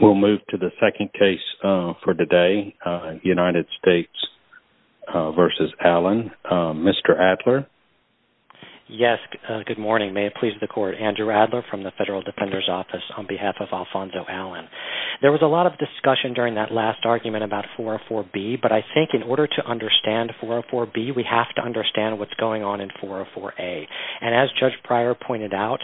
We'll move to the second case for today, United States v. Allen. Mr. Adler? Yes, good morning. May it please the court, Andrew Adler from the Federal Defender's Office on behalf of Alfonso Allen. There was a lot of discussion during that last argument about 404B, but I think in order to understand 404B, we have to understand what's going on in 404A. And as Judge Pryor pointed out,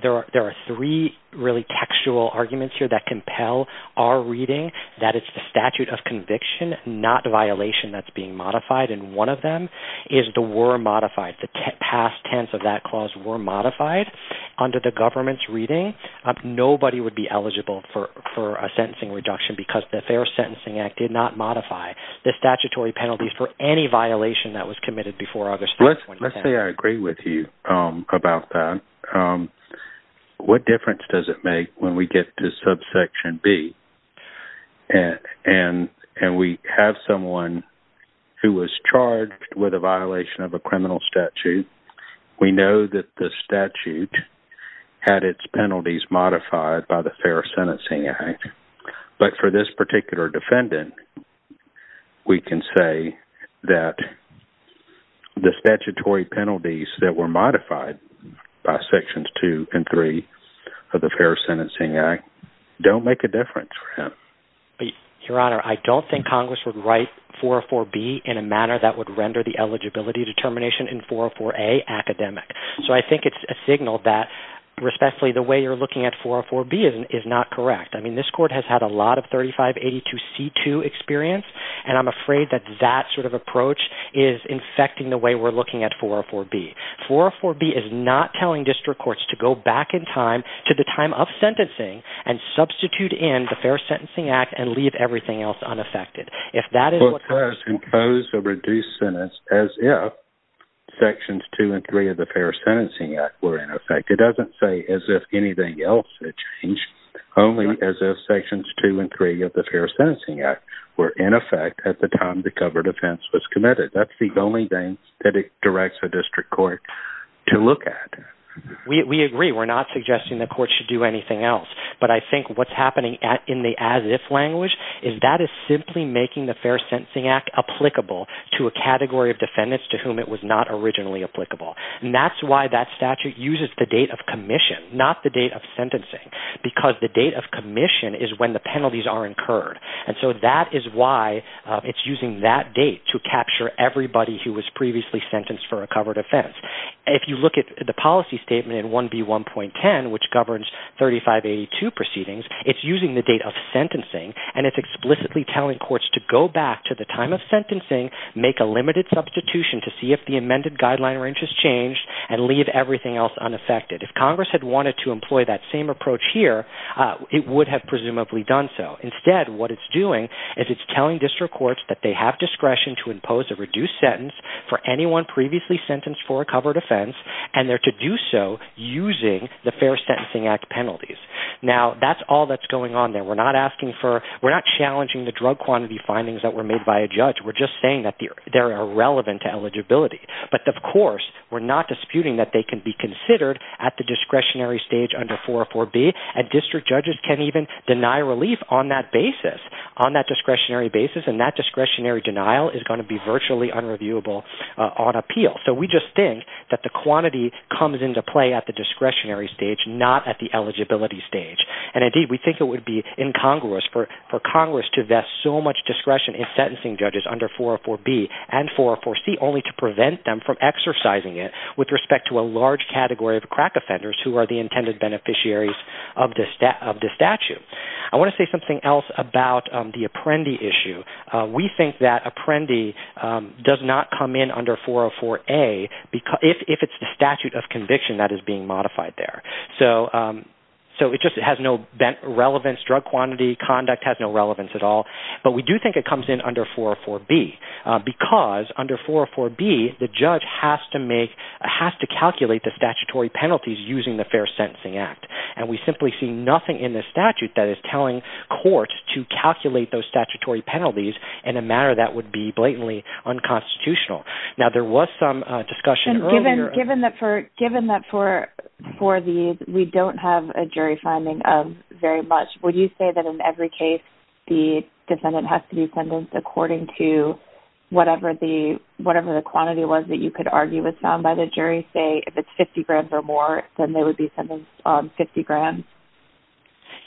there are three really textual arguments here that compel our reading. That it's the statute of conviction, not the violation that's being modified, and one of them is the were modified. The past tense of that clause were modified under the government's reading. Nobody would be eligible for a sentencing reduction because the Fair Sentencing Act did not modify the statutory penalties for any violation that was committed before August 3, 2010. Let's say I agree with you about that. What difference does it make when we get to subsection B? And we have someone who was charged with a violation of a criminal statute. We know that the statute had its penalties modified by the Fair Sentencing Act. But for this particular defendant, we can say that the statutory penalties that were modified by sections 2 and 3 of the Fair Sentencing Act don't make a difference for him. Your Honor, I don't think Congress would write 404B in a manner that would render the eligibility determination in 404A academic. So I think it's a signal that respectfully the way you're looking at 404B is not correct. I mean, this court has had a lot of 3582C2 experience, and I'm afraid that that sort of approach is infecting the way we're looking at 404B. 404B is not telling district courts to go back in time to the time of sentencing and substitute in the Fair Sentencing Act and leave everything else unaffected. The court does impose a reduced sentence as if sections 2 and 3 of the Fair Sentencing Act were in effect. It doesn't say as if anything else had changed, only as if sections 2 and 3 of the Fair Sentencing Act were in effect at the time the covered offense was committed. That's the only thing that it directs a district court to look at. We agree. We're not suggesting the court should do anything else. But I think what's happening in the as-if language is that it's simply making the Fair Sentencing Act applicable to a category of defendants to whom it was not originally applicable. And that's why that statute uses the date of commission, not the date of sentencing, because the date of commission is when the penalties are incurred. And so that is why it's using that date to capture everybody who was previously sentenced for a covered offense. If you look at the policy statement in 1B1.10, which governs 3582 proceedings, it's using the date of sentencing and it's explicitly telling courts to go back to the time of sentencing, make a limited substitution to see if the amended guideline range has changed, and leave everything else unaffected. If Congress had wanted to employ that same approach here, it would have presumably done so. Instead, what it's doing is it's telling district courts that they have discretion to impose a reduced sentence for anyone previously sentenced for a covered offense, and they're to do so using the Fair Sentencing Act penalties. Now, that's all that's going on there. We're not challenging the drug quantity findings that were made by a judge. We're just saying that they're irrelevant to eligibility. But, of course, we're not disputing that they can be considered at the discretionary stage under 404B, and district judges can even deny relief on that basis, on that discretionary basis, and that discretionary denial is going to be virtually unreviewable on appeal. So we just think that the quantity comes into play at the discretionary stage, not at the eligibility stage. And, indeed, we think it would be incongruous for Congress to vest so much discretion in sentencing judges under 404B and 404C, only to prevent them from exercising it with respect to a large category of crack offenders who are the intended beneficiaries of the statute. I want to say something else about the Apprendi issue. We think that Apprendi does not come in under 404A if it's the statute of conviction that is being modified there. So it just has no relevance. Drug quantity conduct has no relevance at all. But we do think it comes in under 404B because under 404B, the judge has to calculate the statutory penalties using the Fair Sentencing Act. And we simply see nothing in the statute that is telling courts to calculate those statutory penalties in a manner that would be blatantly unconstitutional. Now, there was some discussion earlier... Given that for these, we don't have a jury finding of very much, would you say that in every case, the defendant has to be sentenced according to whatever the quantity was that you could argue was found by the jury? Say, if it's 50 grand or more, then they would be sentenced on 50 grand?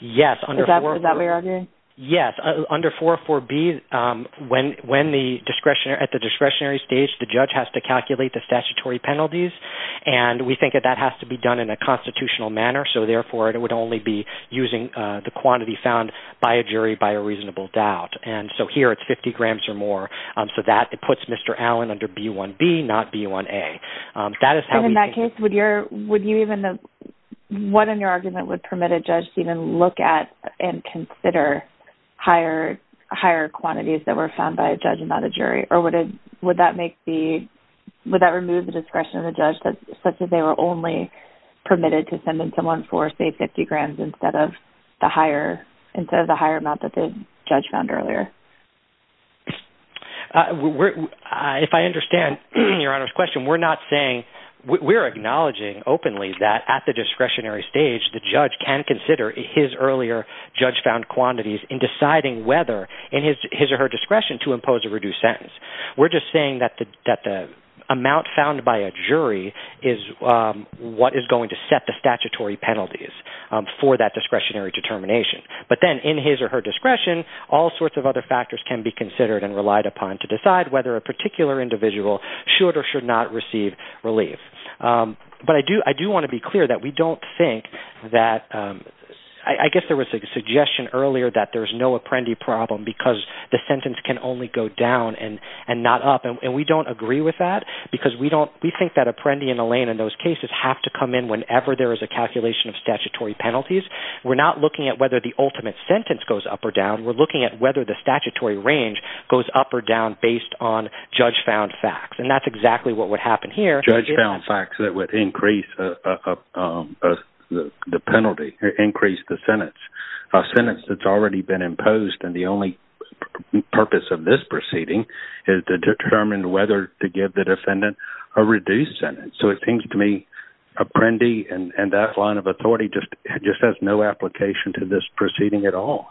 Yes. Is that what you're arguing? Yes. Under 404B, at the discretionary stage, the judge has to calculate the statutory penalties. And we think that that has to be done in a constitutional manner. So therefore, it would only be using the quantity found by a jury by a reasonable doubt. And so here, it's 50 grams or more. So that puts Mr. Allen under B1B, not B1A. So in that case, what in your argument would permit a judge to even look at and consider higher quantities that were found by a judge and not a jury? Or would that remove the discretion of the judge such that they were only permitted to send in someone for, say, 50 grand instead of the higher amount that the judge found earlier? If I understand Your Honor's question, we're acknowledging openly that at the discretionary stage, the judge can consider his earlier judge-found quantities in deciding whether, in his or her discretion, to impose a reduced sentence. We're just saying that the amount found by a jury is what is going to set the statutory penalties for that discretionary determination. But then, in his or her discretion, all sorts of other factors can be considered and relied upon to decide whether a particular individual should or should not receive relief. But I do want to be clear that we don't think that – I guess there was a suggestion earlier that there's no Apprendi problem because the sentence can only go down and not up. And we don't agree with that because we think that Apprendi and Allain in those cases have to come in whenever there is a calculation of statutory penalties. We're not looking at whether the ultimate sentence goes up or down. We're looking at whether the statutory range goes up or down based on judge-found facts. And that's exactly what would happen here. Judge-found facts that would increase the penalty, increase the sentence. A sentence that's already been imposed, and the only purpose of this proceeding is to determine whether to give the defendant a reduced sentence. So it seems to me Apprendi and that line of authority just has no application to this proceeding at all.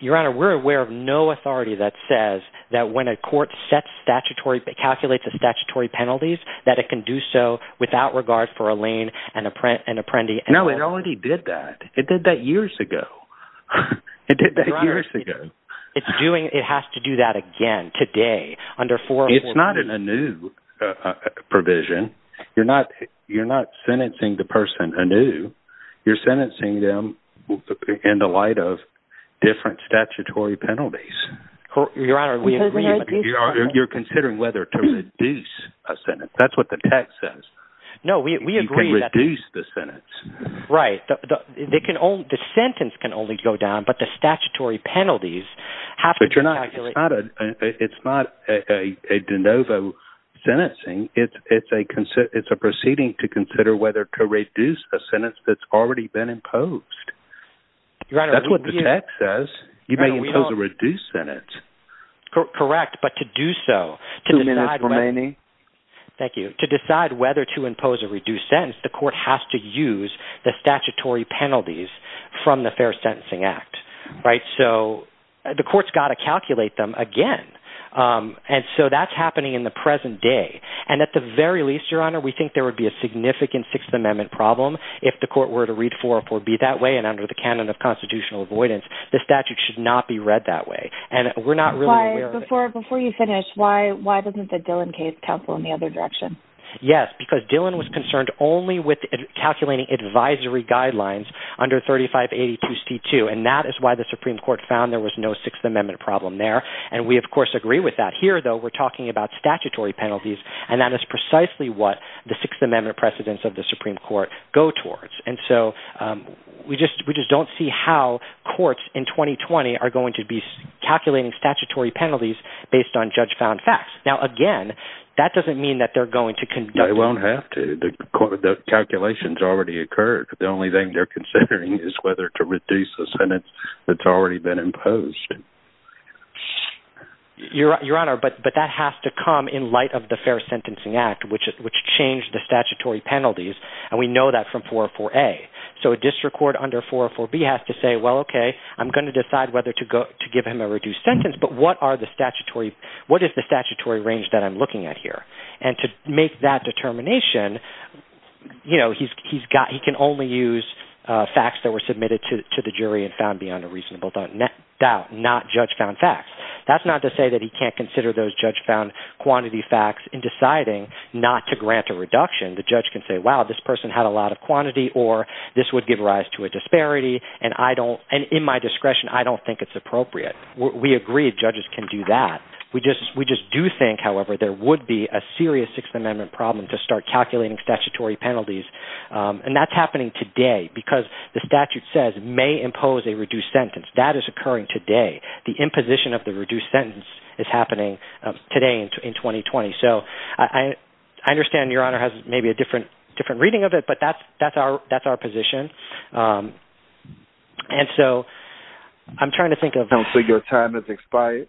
Your Honor, we're aware of no authority that says that when a court calculates the statutory penalties that it can do so without regard for Allain and Apprendi. No, it already did that. It did that years ago. It did that years ago. Your Honor, it has to do that again today. It's not a new provision. You're not sentencing the person anew. You're sentencing them in the light of different statutory penalties. Your Honor, we agree. You're considering whether to reduce a sentence. That's what the text says. No, we agree. You can reduce the sentence. Right. The sentence can only go down, but the statutory penalties have to be calculated. It's not a de novo sentencing. It's a proceeding to consider whether to reduce a sentence that's already been imposed. That's what the text says. You may impose a reduced sentence. Correct, but to do so – Two minutes remaining. Thank you. To decide whether to impose a reduced sentence, the court has to use the statutory penalties from the Fair Sentencing Act. The court's got to calculate them again. That's happening in the present day. At the very least, Your Honor, we think there would be a significant Sixth Amendment problem if the court were to read 404B that way and under the canon of constitutional avoidance. The statute should not be read that way. Before you finish, why doesn't the Dillon case counsel in the other direction? Yes, because Dillon was concerned only with calculating advisory guidelines under 3582C2, and that is why the Supreme Court found there was no Sixth Amendment problem there. We, of course, agree with that. Here, though, we're talking about statutory penalties, and that is precisely what the Sixth Amendment precedents of the Supreme Court go towards. We just don't see how courts in 2020 are going to be calculating statutory penalties based on judge-found facts. Now, again, that doesn't mean that they're going to conduct… They won't have to. The calculations already occurred. The only thing they're considering is whether to reduce the sentence that's already been imposed. Your Honor, but that has to come in light of the Fair Sentencing Act, which changed the statutory penalties, and we know that from 404A. So a district court under 404B has to say, well, okay, I'm going to decide whether to give him a reduced sentence, but what is the statutory range that I'm looking at here? And to make that determination, he can only use facts that were submitted to the jury and found beyond a reasonable doubt, not judge-found facts. That's not to say that he can't consider those judge-found quantity facts in deciding not to grant a reduction. The judge can say, wow, this person had a lot of quantity, or this would give rise to a disparity, and in my discretion, I don't think it's appropriate. We agree judges can do that. We just do think, however, there would be a serious Sixth Amendment problem to start calculating statutory penalties. And that's happening today because the statute says may impose a reduced sentence. That is occurring today. The imposition of the reduced sentence is happening today in 2020. So I understand Your Honor has maybe a different reading of it, but that's our position. And so I'm trying to think of – I don't think your time has expired.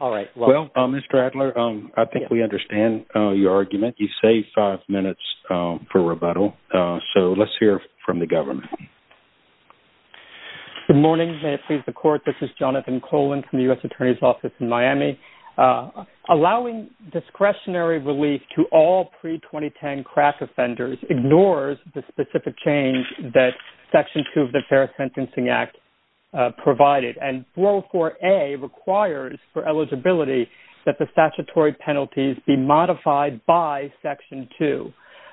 All right. Well, Mr. Adler, I think we understand your argument. You saved five minutes for rebuttal. So let's hear from the government. Good morning. May it please the Court. This is Jonathan Colan from the U.S. Attorney's Office in Miami. Allowing discretionary relief to all pre-2010 crack offenders ignores the specific change that Section 2 of the Fair Sentencing Act provided. And 404A requires for eligibility that the statutory penalties be modified by Section 2.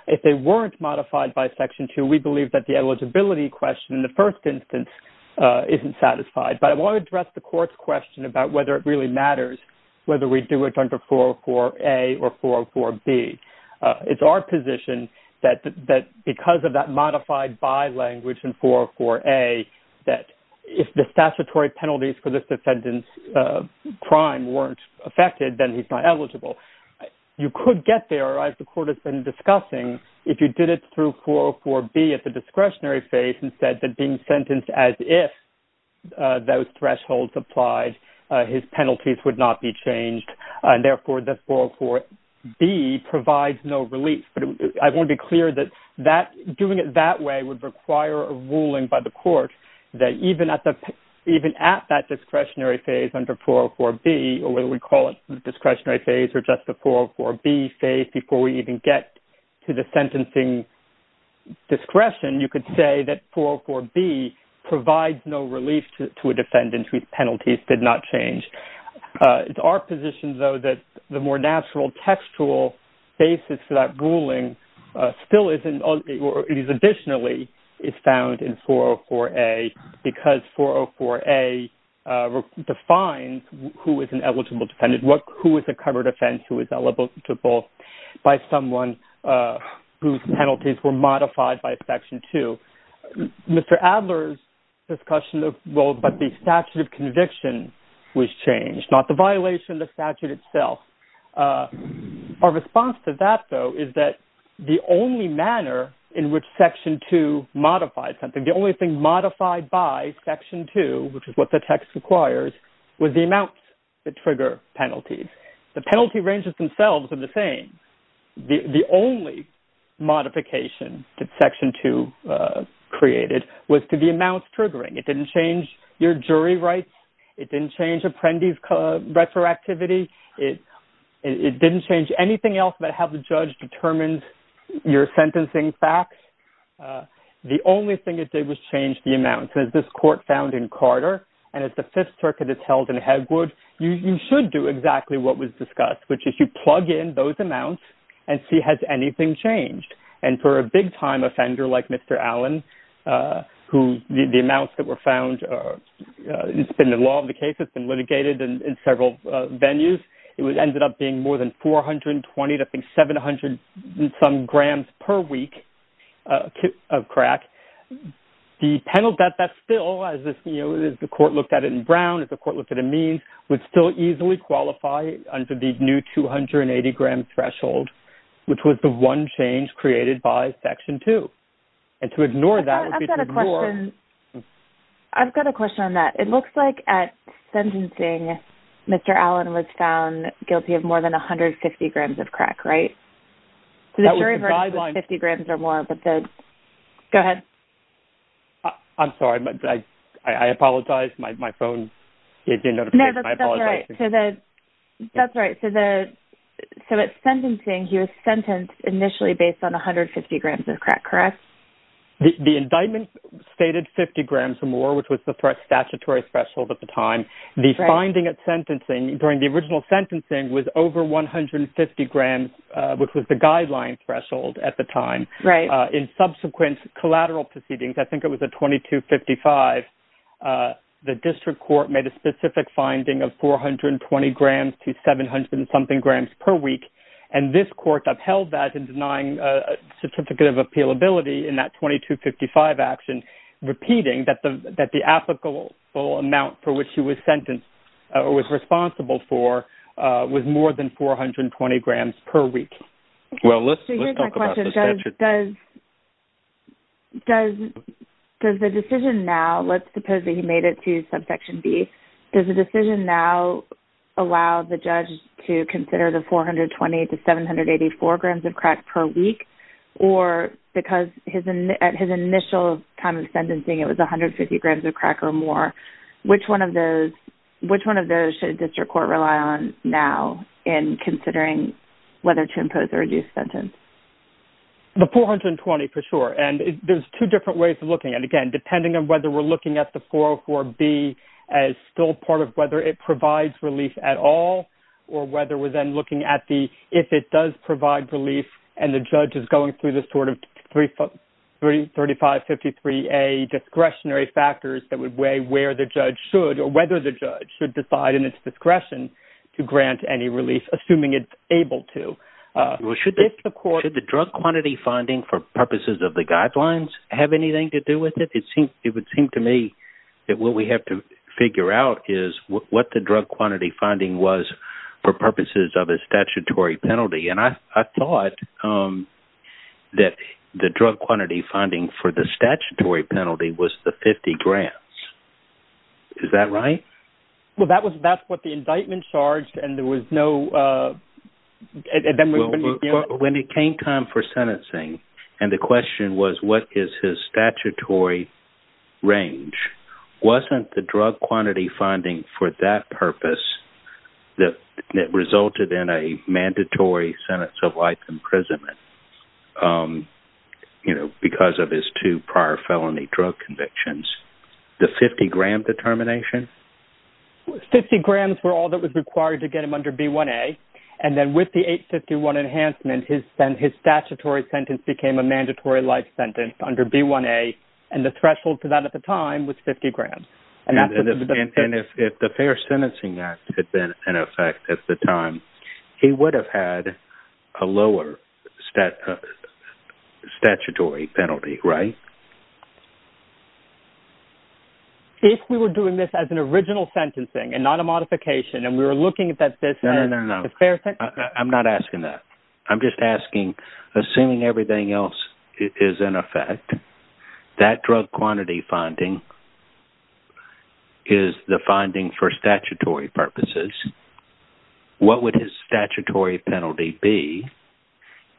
If they weren't modified by Section 2, we believe that the eligibility question in the first instance isn't satisfied. But I want to address the Court's question about whether it really matters whether we do it under 404A or 404B. It's our position that because of that modified by language in 404A, that if the statutory penalties for this defendant's crime weren't affected, then he's not eligible. You could get there, as the Court has been discussing, if you did it through 404B at the discretionary phase and said that being sentenced as if those thresholds applied, his penalties would not be changed, and therefore the 404B provides no relief. But I want to be clear that doing it that way would require a ruling by the Court that even at that discretionary phase under 404B, or whether we call it the discretionary phase or just the 404B phase before we even get to the sentencing discretion, you could say that 404B provides no relief to a defendant whose penalties did not change. It's our position, though, that the more natural textual basis for that ruling still isn't, or at least additionally is found in 404A because 404A defines who is an eligible defendant, who is a covered offense, who is eligible by someone whose penalties were modified by Section 2. Mr. Adler's discussion of, well, but the statute of conviction was changed, not the violation of the statute itself. Our response to that, though, is that the only manner in which Section 2 modified something, the only thing modified by Section 2, which is what the text requires, was the amounts that trigger penalties. The penalty ranges themselves are the same. The only modification that Section 2 created was to the amounts triggering. It didn't change your jury rights. It didn't change apprentice retroactivity. It didn't change anything else but how the judge determines your sentencing facts. The only thing it did was change the amounts, and as this court found in Carter, and as the Fifth Circuit has held in Hedgwood, you should do exactly what was discussed, which is you plug in those amounts and see has anything changed. And for a big-time offender like Mr. Allen, who the amounts that were found, it's been the law of the case, it's been litigated in several venues, it ended up being more than 420 to I think 700-some grams per week of crack. The penalty at that still, as the court looked at it in Brown, as the court looked at it in Means, would still easily qualify under the new 280-gram threshold, which was the one change created by Section 2. And to ignore that would be to ignore. I've got a question on that. It looks like at sentencing, Mr. Allen was found guilty of more than 150 grams of crack, right? That was the guideline. So the jury verdict was 50 grams or more. Go ahead. I'm sorry. I apologize. My phone gave me a notification. I apologize. That's right. So at sentencing, he was sentenced initially based on 150 grams of crack, correct? The indictment stated 50 grams or more, which was the statutory threshold at the time. The finding at sentencing during the original sentencing was over 150 grams, which was the guideline threshold at the time. Right. In subsequent collateral proceedings, I think it was at 2255, the district court made a specific finding of 420 grams to 700-something grams per week, and this court upheld that in denying a certificate of appealability in that 2255 action, repeating that the applicable amount for which he was sentenced or was responsible for was more than 420 grams per week. Well, let's talk about this. So here's my question. Does the decision now, let's suppose that he made it to Subsection B, does the decision now allow the judge to consider the 420 to 784 grams of crack per week, or because at his initial time of sentencing it was 150 grams of crack or more, which one of those should a district court rely on now in considering whether to impose a reduced sentence? The 420 for sure, and there's two different ways of looking at it. Again, depending on whether we're looking at the 404B as still part of whether it provides relief at all or whether we're then looking at the if it does provide relief and the judge is going through the sort of 3553A discretionary factors that would weigh where the judge should or whether the judge should decide in its discretion to grant any relief, assuming it's able to. Should the drug quantity finding for purposes of the guidelines have anything to do with it? It would seem to me that what we have to figure out is what the drug quantity finding was for purposes of a statutory penalty, and I thought that the drug quantity finding for the statutory penalty was the 50 grams. Is that right? Well, that's what the indictment charged, and there was no... When it came time for sentencing, and the question was what is his statutory range, wasn't the drug quantity finding for that purpose that resulted in a mandatory sentence of life imprisonment because of his two prior felony drug convictions? The 50 gram determination? 50 grams were all that was required to get him under B1A, and then with the 851 enhancement, his statutory sentence became a mandatory life sentence under B1A, and the threshold for that at the time was 50 grams. And if the fair sentencing act had been in effect at the time, he would have had a lower statutory penalty, right? If we were doing this as an original sentencing and not a modification, and we were looking at this as fair... No, no, no, I'm not asking that. I'm just asking, assuming everything else is in effect, that drug quantity finding is the finding for statutory purposes, what would his statutory penalty be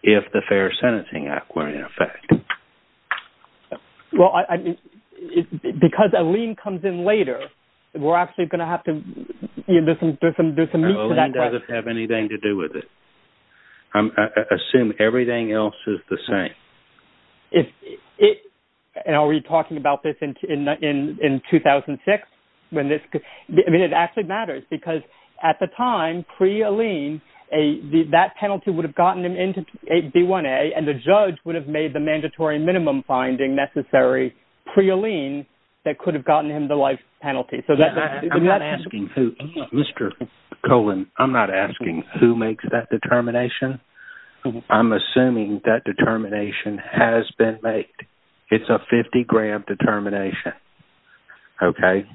if the fair sentencing act were in effect? Well, because Alene comes in later, we're actually going to have to do some meat to that question. It doesn't have anything to do with it. Assume everything else is the same. Are we talking about this in 2006? I mean, it actually matters because at the time, pre-Alene, that penalty would have gotten him into B1A, and the judge would have made the mandatory minimum finding necessary pre-Alene that could have gotten him the life penalty. I'm not asking who, Mr. Cohen, I'm not asking who makes that determination. I'm assuming that determination has been made. It's a 50-gram determination, okay?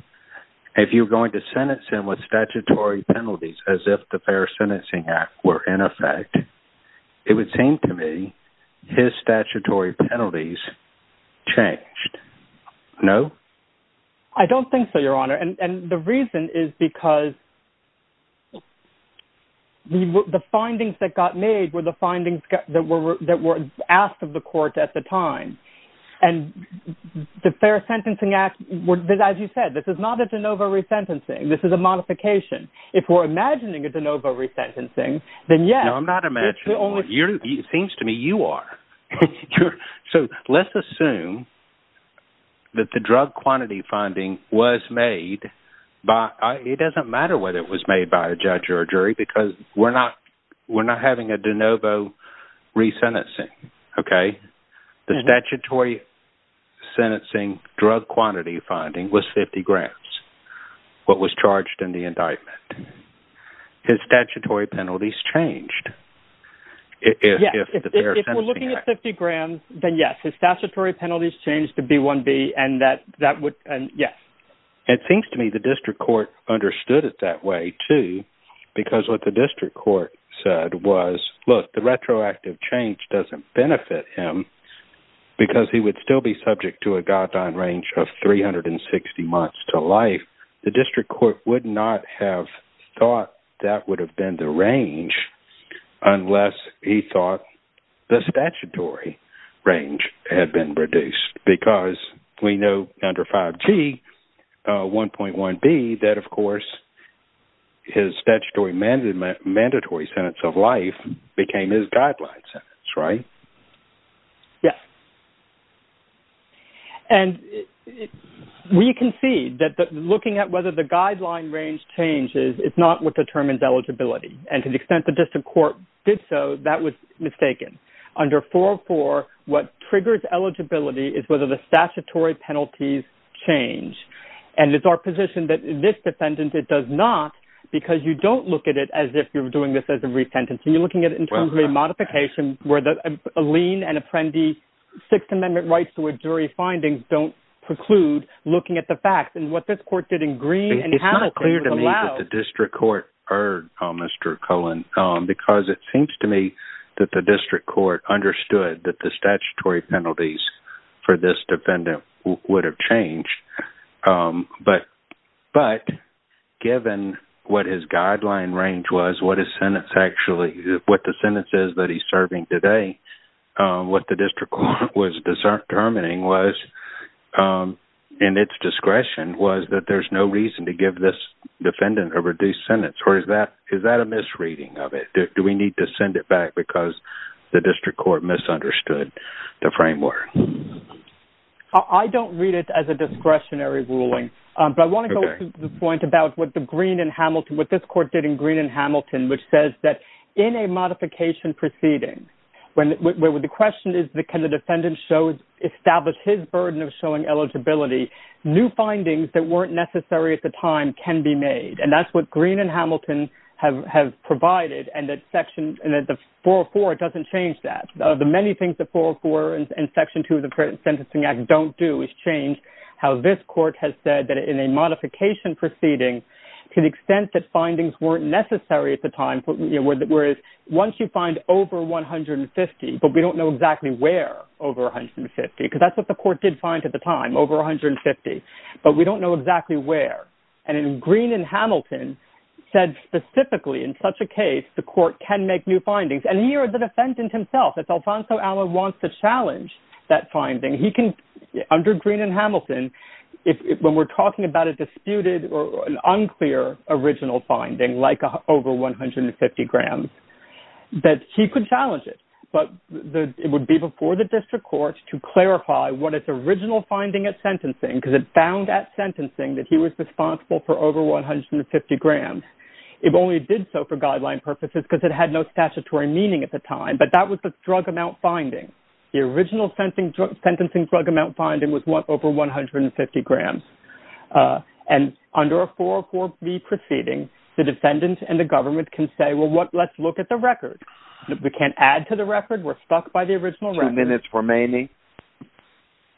If you're going to sentence him with statutory penalties as if the fair sentencing act were in effect, it would seem to me his statutory penalties changed. No? I don't think so, Your Honor. And the reason is because the findings that got made were the findings that were asked of the court at the time. And the fair sentencing act, as you said, this is not a de novo resentencing, this is a modification. If we're imagining a de novo resentencing, then yes. No, I'm not imagining one. It seems to me you are. So let's assume that the drug quantity finding was made by, it doesn't matter whether it was made by a judge or a jury because we're not having a de novo resentencing, okay? The statutory sentencing drug quantity finding was 50 grams, what was charged in the indictment. His statutory penalties changed. Yes, if we're looking at 50 grams, then yes. His statutory penalties changed to B1B and that would, yes. It seems to me the district court understood it that way, too, because what the district court said was, look, the retroactive change doesn't benefit him because he would still be subject to a goddamn range of 360 months to life. The district court would not have thought that would have been the range. Unless he thought the statutory range had been reduced because we know under 5G 1.1B that, of course, his statutory mandatory sentence of life became his guideline sentence, right? Yes. And we can see that looking at whether the guideline range changes, it's not what determines eligibility. And to the extent the district court did so, that was mistaken. Under 404, what triggers eligibility is whether the statutory penalties change. And it's our position that this defendant, it does not, because you don't look at it as if you're doing this as a resentencing. You're looking at it in terms of a modification where the lien and apprendi Sixth Amendment rights to a jury findings don't preclude looking at the facts. And what this court did in green and it's not clear to me that the district court heard Mr. Cohen because it seems to me that the district court understood that the statutory penalties for this defendant would have changed. But given what his guideline range was, what his sentence actually, what the sentence is that he's serving today, what the district court was determining was, and its discretion was that there's no reason to give this defendant a reduced sentence. Or is that a misreading of it? Do we need to send it back because the district court misunderstood the framework? I don't read it as a discretionary ruling. But I want to go to the point about what the green and Hamilton, what this court did in green and Hamilton, which says that in a modification proceeding, when the question is, can the defendant show, establish his burden of showing eligibility? New findings that weren't necessary at the time can be made. And that's what green and Hamilton have, have provided and that section four or four doesn't change that. The many things that four or four and section two of the current sentencing act don't do is change how this court has said that in a modification proceeding, to the extent that findings weren't necessary at the time, whereas once you find over 150, but we don't know exactly where over 150, because that's what the court did find at the time over 150, but we don't know exactly where. And in green and Hamilton said specifically in such a case, the court can make new findings. And he or the defendant himself, if Alfonso Alva wants to challenge that finding, he can under green and Hamilton. If when we're talking about a disputed or an unclear original finding, like over 150 grams that he could challenge it, but it would be before the district court to clarify what its original finding at sentencing, because it found at sentencing that he was responsible for over 150 grams. It only did so for guideline purposes because it had no statutory meaning at the time, but that was the drug amount finding. The original sentencing drug, sentencing drug amount finding was what over 150 grams and under a four, four B proceeding, the defendant and the government can say, well, what let's look at the record. We can't add to the record. We're stuck by the original record minutes remaining,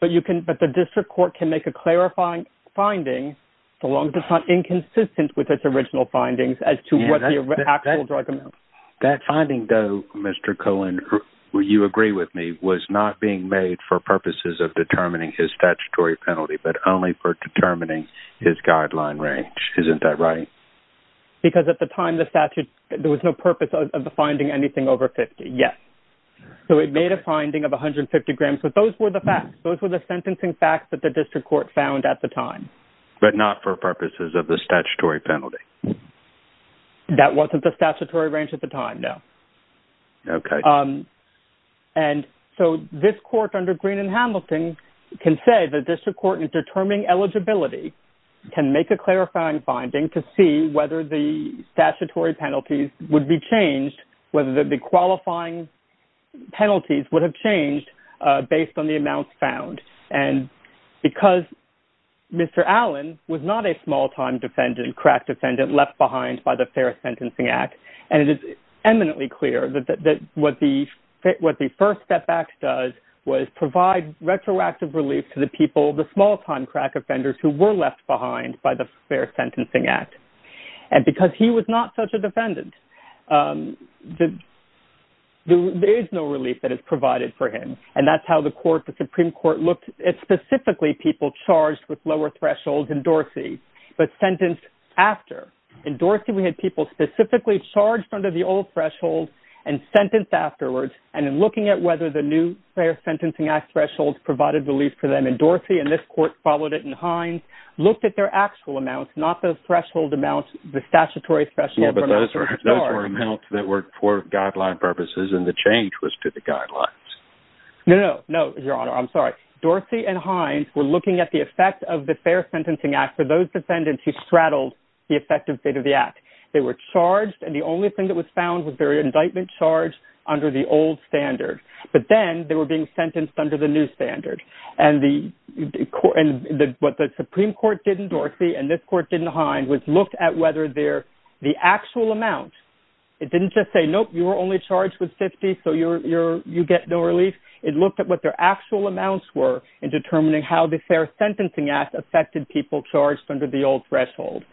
but you can, but the district court can make a clarifying finding. So long as it's not inconsistent with its original findings as to what the actual drug amount, that finding though, Mr. Cohen, will you agree with me was not being made for purposes of determining his statutory penalty, but only for determining his guideline range. Isn't that right? Because at the time the statute, there was no purpose of the finding anything over 50. Yes. So it made a finding of 150 grams, but those were the facts. Those were the sentencing facts that the district court found at the time, but not for purposes of the statutory penalty. That wasn't the statutory range at the time. No. Okay. And so this court under green and Hamilton can say the district court in determining eligibility can make a clarifying finding to see whether the statutory penalties would be changed, whether the qualifying penalties would have changed based on the amounts found. And because Mr. Allen was not a small time defendant, crack defendant left behind by the fair sentencing act. And it is eminently clear that, that, that what the fit, what the first step back does was provide retroactive relief to the people, the small time crack offenders who were left behind by the fair sentencing act. And because he was not such a defendant, the, there is no relief that is provided for him. And that's how the court, the Supreme court looked at specifically people charged with lower thresholds and Dorsey, but sentenced after endorsed him. We had people specifically charged under the old threshold and sentenced afterwards. And in looking at whether the new fair sentencing act thresholds provided relief for them and Dorsey and this court followed it. And Hines looked at their actual amounts, not those threshold amounts, the statutory threshold. Those were amounts that were for guideline purposes. And the change was to the guidelines. No, no, no. Your honor. I'm sorry. Dorsey and Hines were looking at the effect of the fair sentencing act for those defendants who straddled the effective fate of the act. They were charged. And the only thing that was found was their indictment charge under the old standard, but then they were being sentenced under the new standard. And the court and the, what the Supreme court didn't Dorsey and this court didn't Hines was looked at whether they're the actual amount. It didn't just say, Nope, you were only charged with 50. So you're, you're, you get no relief. It looked at what their actual amounts were in determining how the fair sentencing act affected people charged under the old threshold.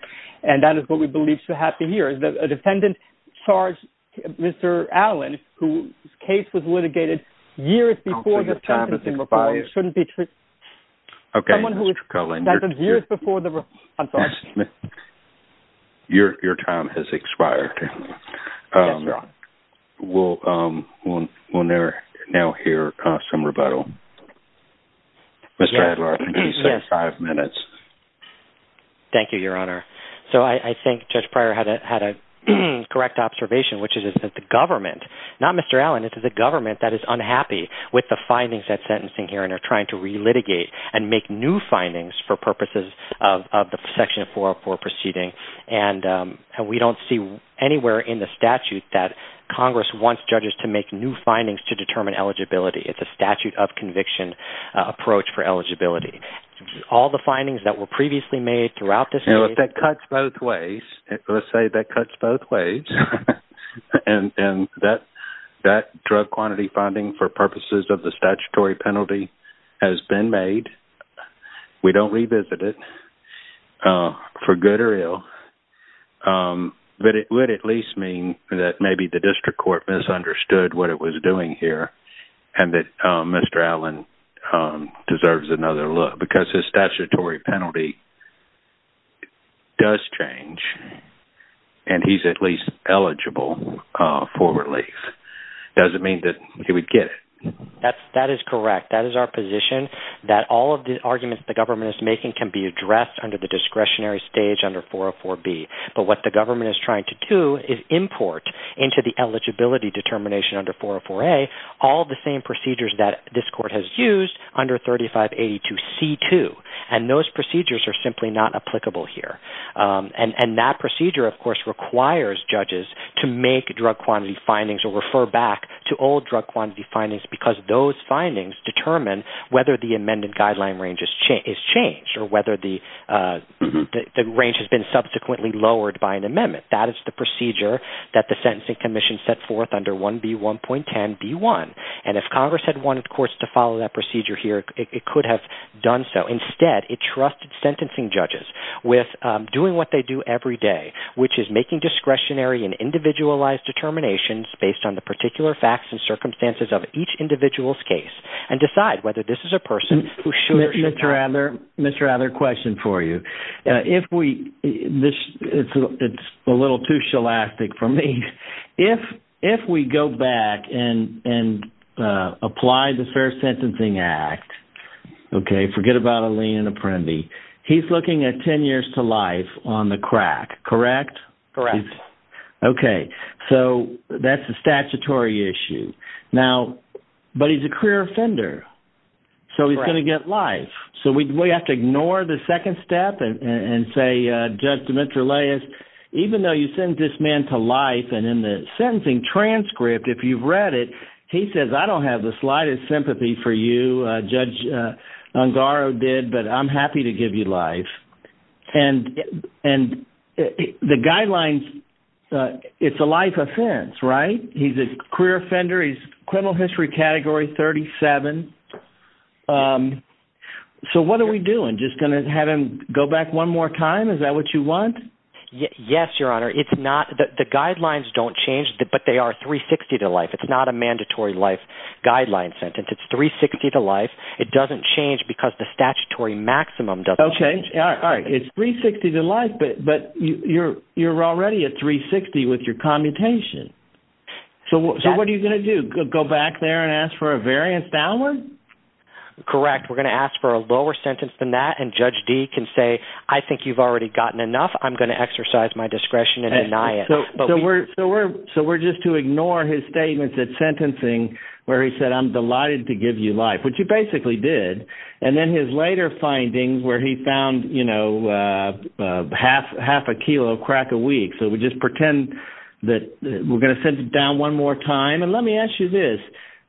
And that is what we believe to have to hear is that a defendant charged Mr. Allen, who's case was litigated years before this shouldn't be true. Okay. Someone who is years before the, I'm sorry. Your, your time has expired. We'll we'll, we'll never now hear some rebuttal. Mr. Adler, five minutes. Thank you, your honor. So I think judge prior had a, had a correct observation, which is that the government, not Mr. Allen, it's the government that is unhappy with the findings that sentencing here and are trying to relitigate and make new findings for purposes of, of the section of 404 proceeding. And, and we don't see anywhere in the statute that Congress wants judges to make new findings to determine eligibility. It's a statute of conviction approach for eligibility. All the findings that were previously made throughout this, you know, if that cuts both ways, let's say that cuts both ways. And that, that drug quantity funding for purposes of the statutory penalty has been made. We don't revisit it for good or ill. But it would at least mean that maybe the district court misunderstood what it was doing here. And that Mr. Allen deserves another look because his statutory penalty does change. And he's at least eligible for relief. Doesn't mean that he would get it. That's, that is correct. That is our position that all of the arguments the government is making can be addressed under the discretionary stage under 404 B. But what the government is trying to do is import into the eligibility determination under 404 A all the same procedures that this court has used under 404 3582 C2. And those procedures are simply not applicable here. And that procedure, of course, requires judges to make drug quantity findings or refer back to old drug quantity findings because those findings determine whether the amended guideline range is changed or whether the range has been subsequently lowered by an amendment. That is the procedure that the Sentencing Commission set forth under 1B1.10B1. And if Congress had wanted courts to follow that procedure here, it could have done so. Instead it trusted sentencing judges with doing what they do every day, which is making discretionary and individualized determinations based on the particular facts and circumstances of each individual's case and decide whether this is a person who should or should not. Mr. Adler, Mr. Adler, question for you. If we, this, it's a little too scholastic for me. If, if we go back and, and apply the Fair Sentencing Act, okay, forget about a lien apprendee. He's looking at 10 years to life on the crack, correct? Correct. Okay. So that's a statutory issue now, but he's a career offender. So he's going to get life. So we have to ignore the second step and say, Judge Demetriou, even though you send this man to life and in the sentencing transcript, if you've read it, he says, I don't have the slightest sympathy for you. Judge Ungaro did, but I'm happy to give you life. And, and the guidelines, it's a life offense, right? He's a career offender. He's criminal history category 37. So what are we doing? Just going to have him go back one more time. Is that what you want? Yes, Your Honor. It's not that the guidelines don't change, but they are 360 to life. It's not a mandatory life guideline sentence. It's 360 to life. It doesn't change because the statutory maximum doesn't change. All right. It's 360 to life, but you're, you're already at 360 with your commutation. So, so what are you going to do? Go back there and ask for a variance downward? Correct. We're going to ask for a lower sentence than that. And judge D can say, I think you've already gotten enough. I'm going to exercise my discretion and deny it. So we're, so we're, so we're just to ignore his statements at sentencing where he said, I'm delighted to give you life, which you basically did. And then his later findings where he found, you know half, half a kilo crack a week. So we just pretend that we're going to send it down one more time. And let me ask you this.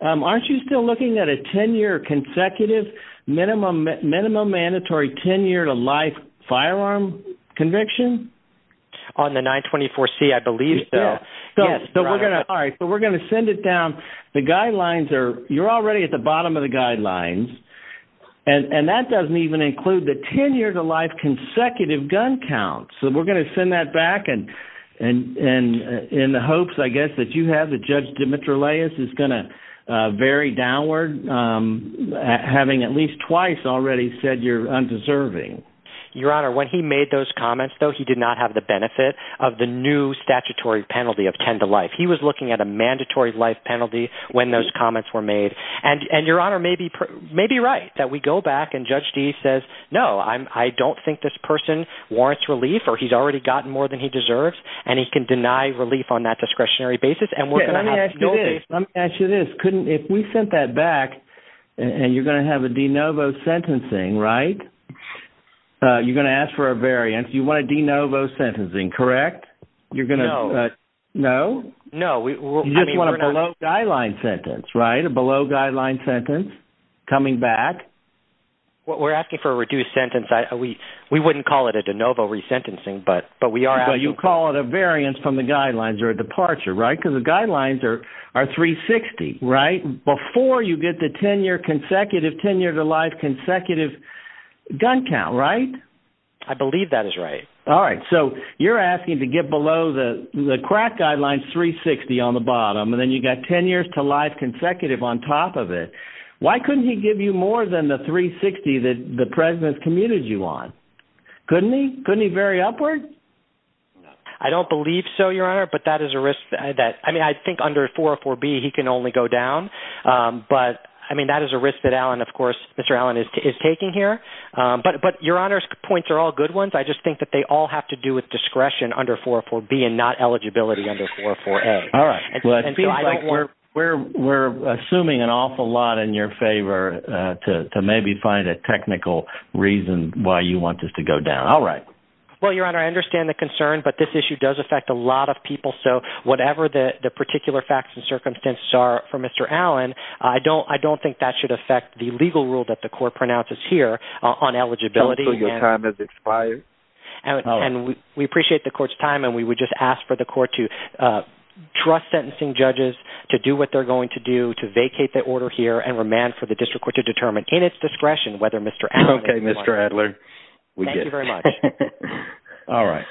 Aren't you still looking at a 10 year consecutive minimum, minimum mandatory 10 year to life firearm conviction? On the 924 C, I believe so. So we're going to, all right, but we're going to send it down. The guidelines are, you're already at the bottom of the guidelines. And that doesn't even include the 10 years of life consecutive gun count. So we're going to send that back and, and, and in the hopes, I guess that you have the judge Demetrius is going to vary downward. I'm having at least twice already said you're undeserving. Your honor, when he made those comments though, he did not have the benefit of the new statutory penalty of 10 to life. He was looking at a mandatory life penalty when those comments were made and, and your honor may be, may be right that we go back and judge D says, no, I'm, I don't think this person warrants relief or he's already gotten more than he deserves on a discretionary basis. And we're going to ask you this. Couldn't, if we sent that back and you're going to have a de novo sentencing, right? You're going to ask for a variance. You want a de novo sentencing, correct? You're going to, no, no, no. You just want a below guideline sentence, right? A below guideline sentence coming back. Well, we're asking for a reduced sentence. I, we, we wouldn't call it a de novo resentencing, but, but we are, but you call it a variance from the guidelines or a departure, right? Cause the guidelines are, are three 60, right? Before you get the 10 year consecutive tenure to life consecutive gun count, right? I believe that is right. All right. So you're asking to get below the crack guidelines, three 60 on the bottom, and then you got 10 years to life consecutive on top of it. Why couldn't he give you more than the three 60 that the president's commuted you on? Couldn't he, couldn't he very upward? I don't believe so your honor, but that is a risk that, I mean, I think under four or four B he can only go down. But I mean, that is a risk that Allen, of course, Mr. Allen is, is taking here. But, but your honors points are all good ones. I just think that they all have to do with discretion under four or four B and not eligibility under four or four A. All right. Well, it feels like we're, we're assuming an awful lot in your favor to maybe find a technical reason why you want this to go down. All right. Well, your honor, I understand the concern, but this issue does affect a lot of people. So whatever the particular facts and circumstances are for Mr. Allen, I don't, I don't think that should affect the legal rule that the court pronounces here on eligibility. And we appreciate the court's time. And we would just ask for the court to trust sentencing judges to do what they're going to do to vacate that order here and remand for the district court to determine in its discretion, whether Mr. Okay, Mr. Adler. Thank you very much. All right.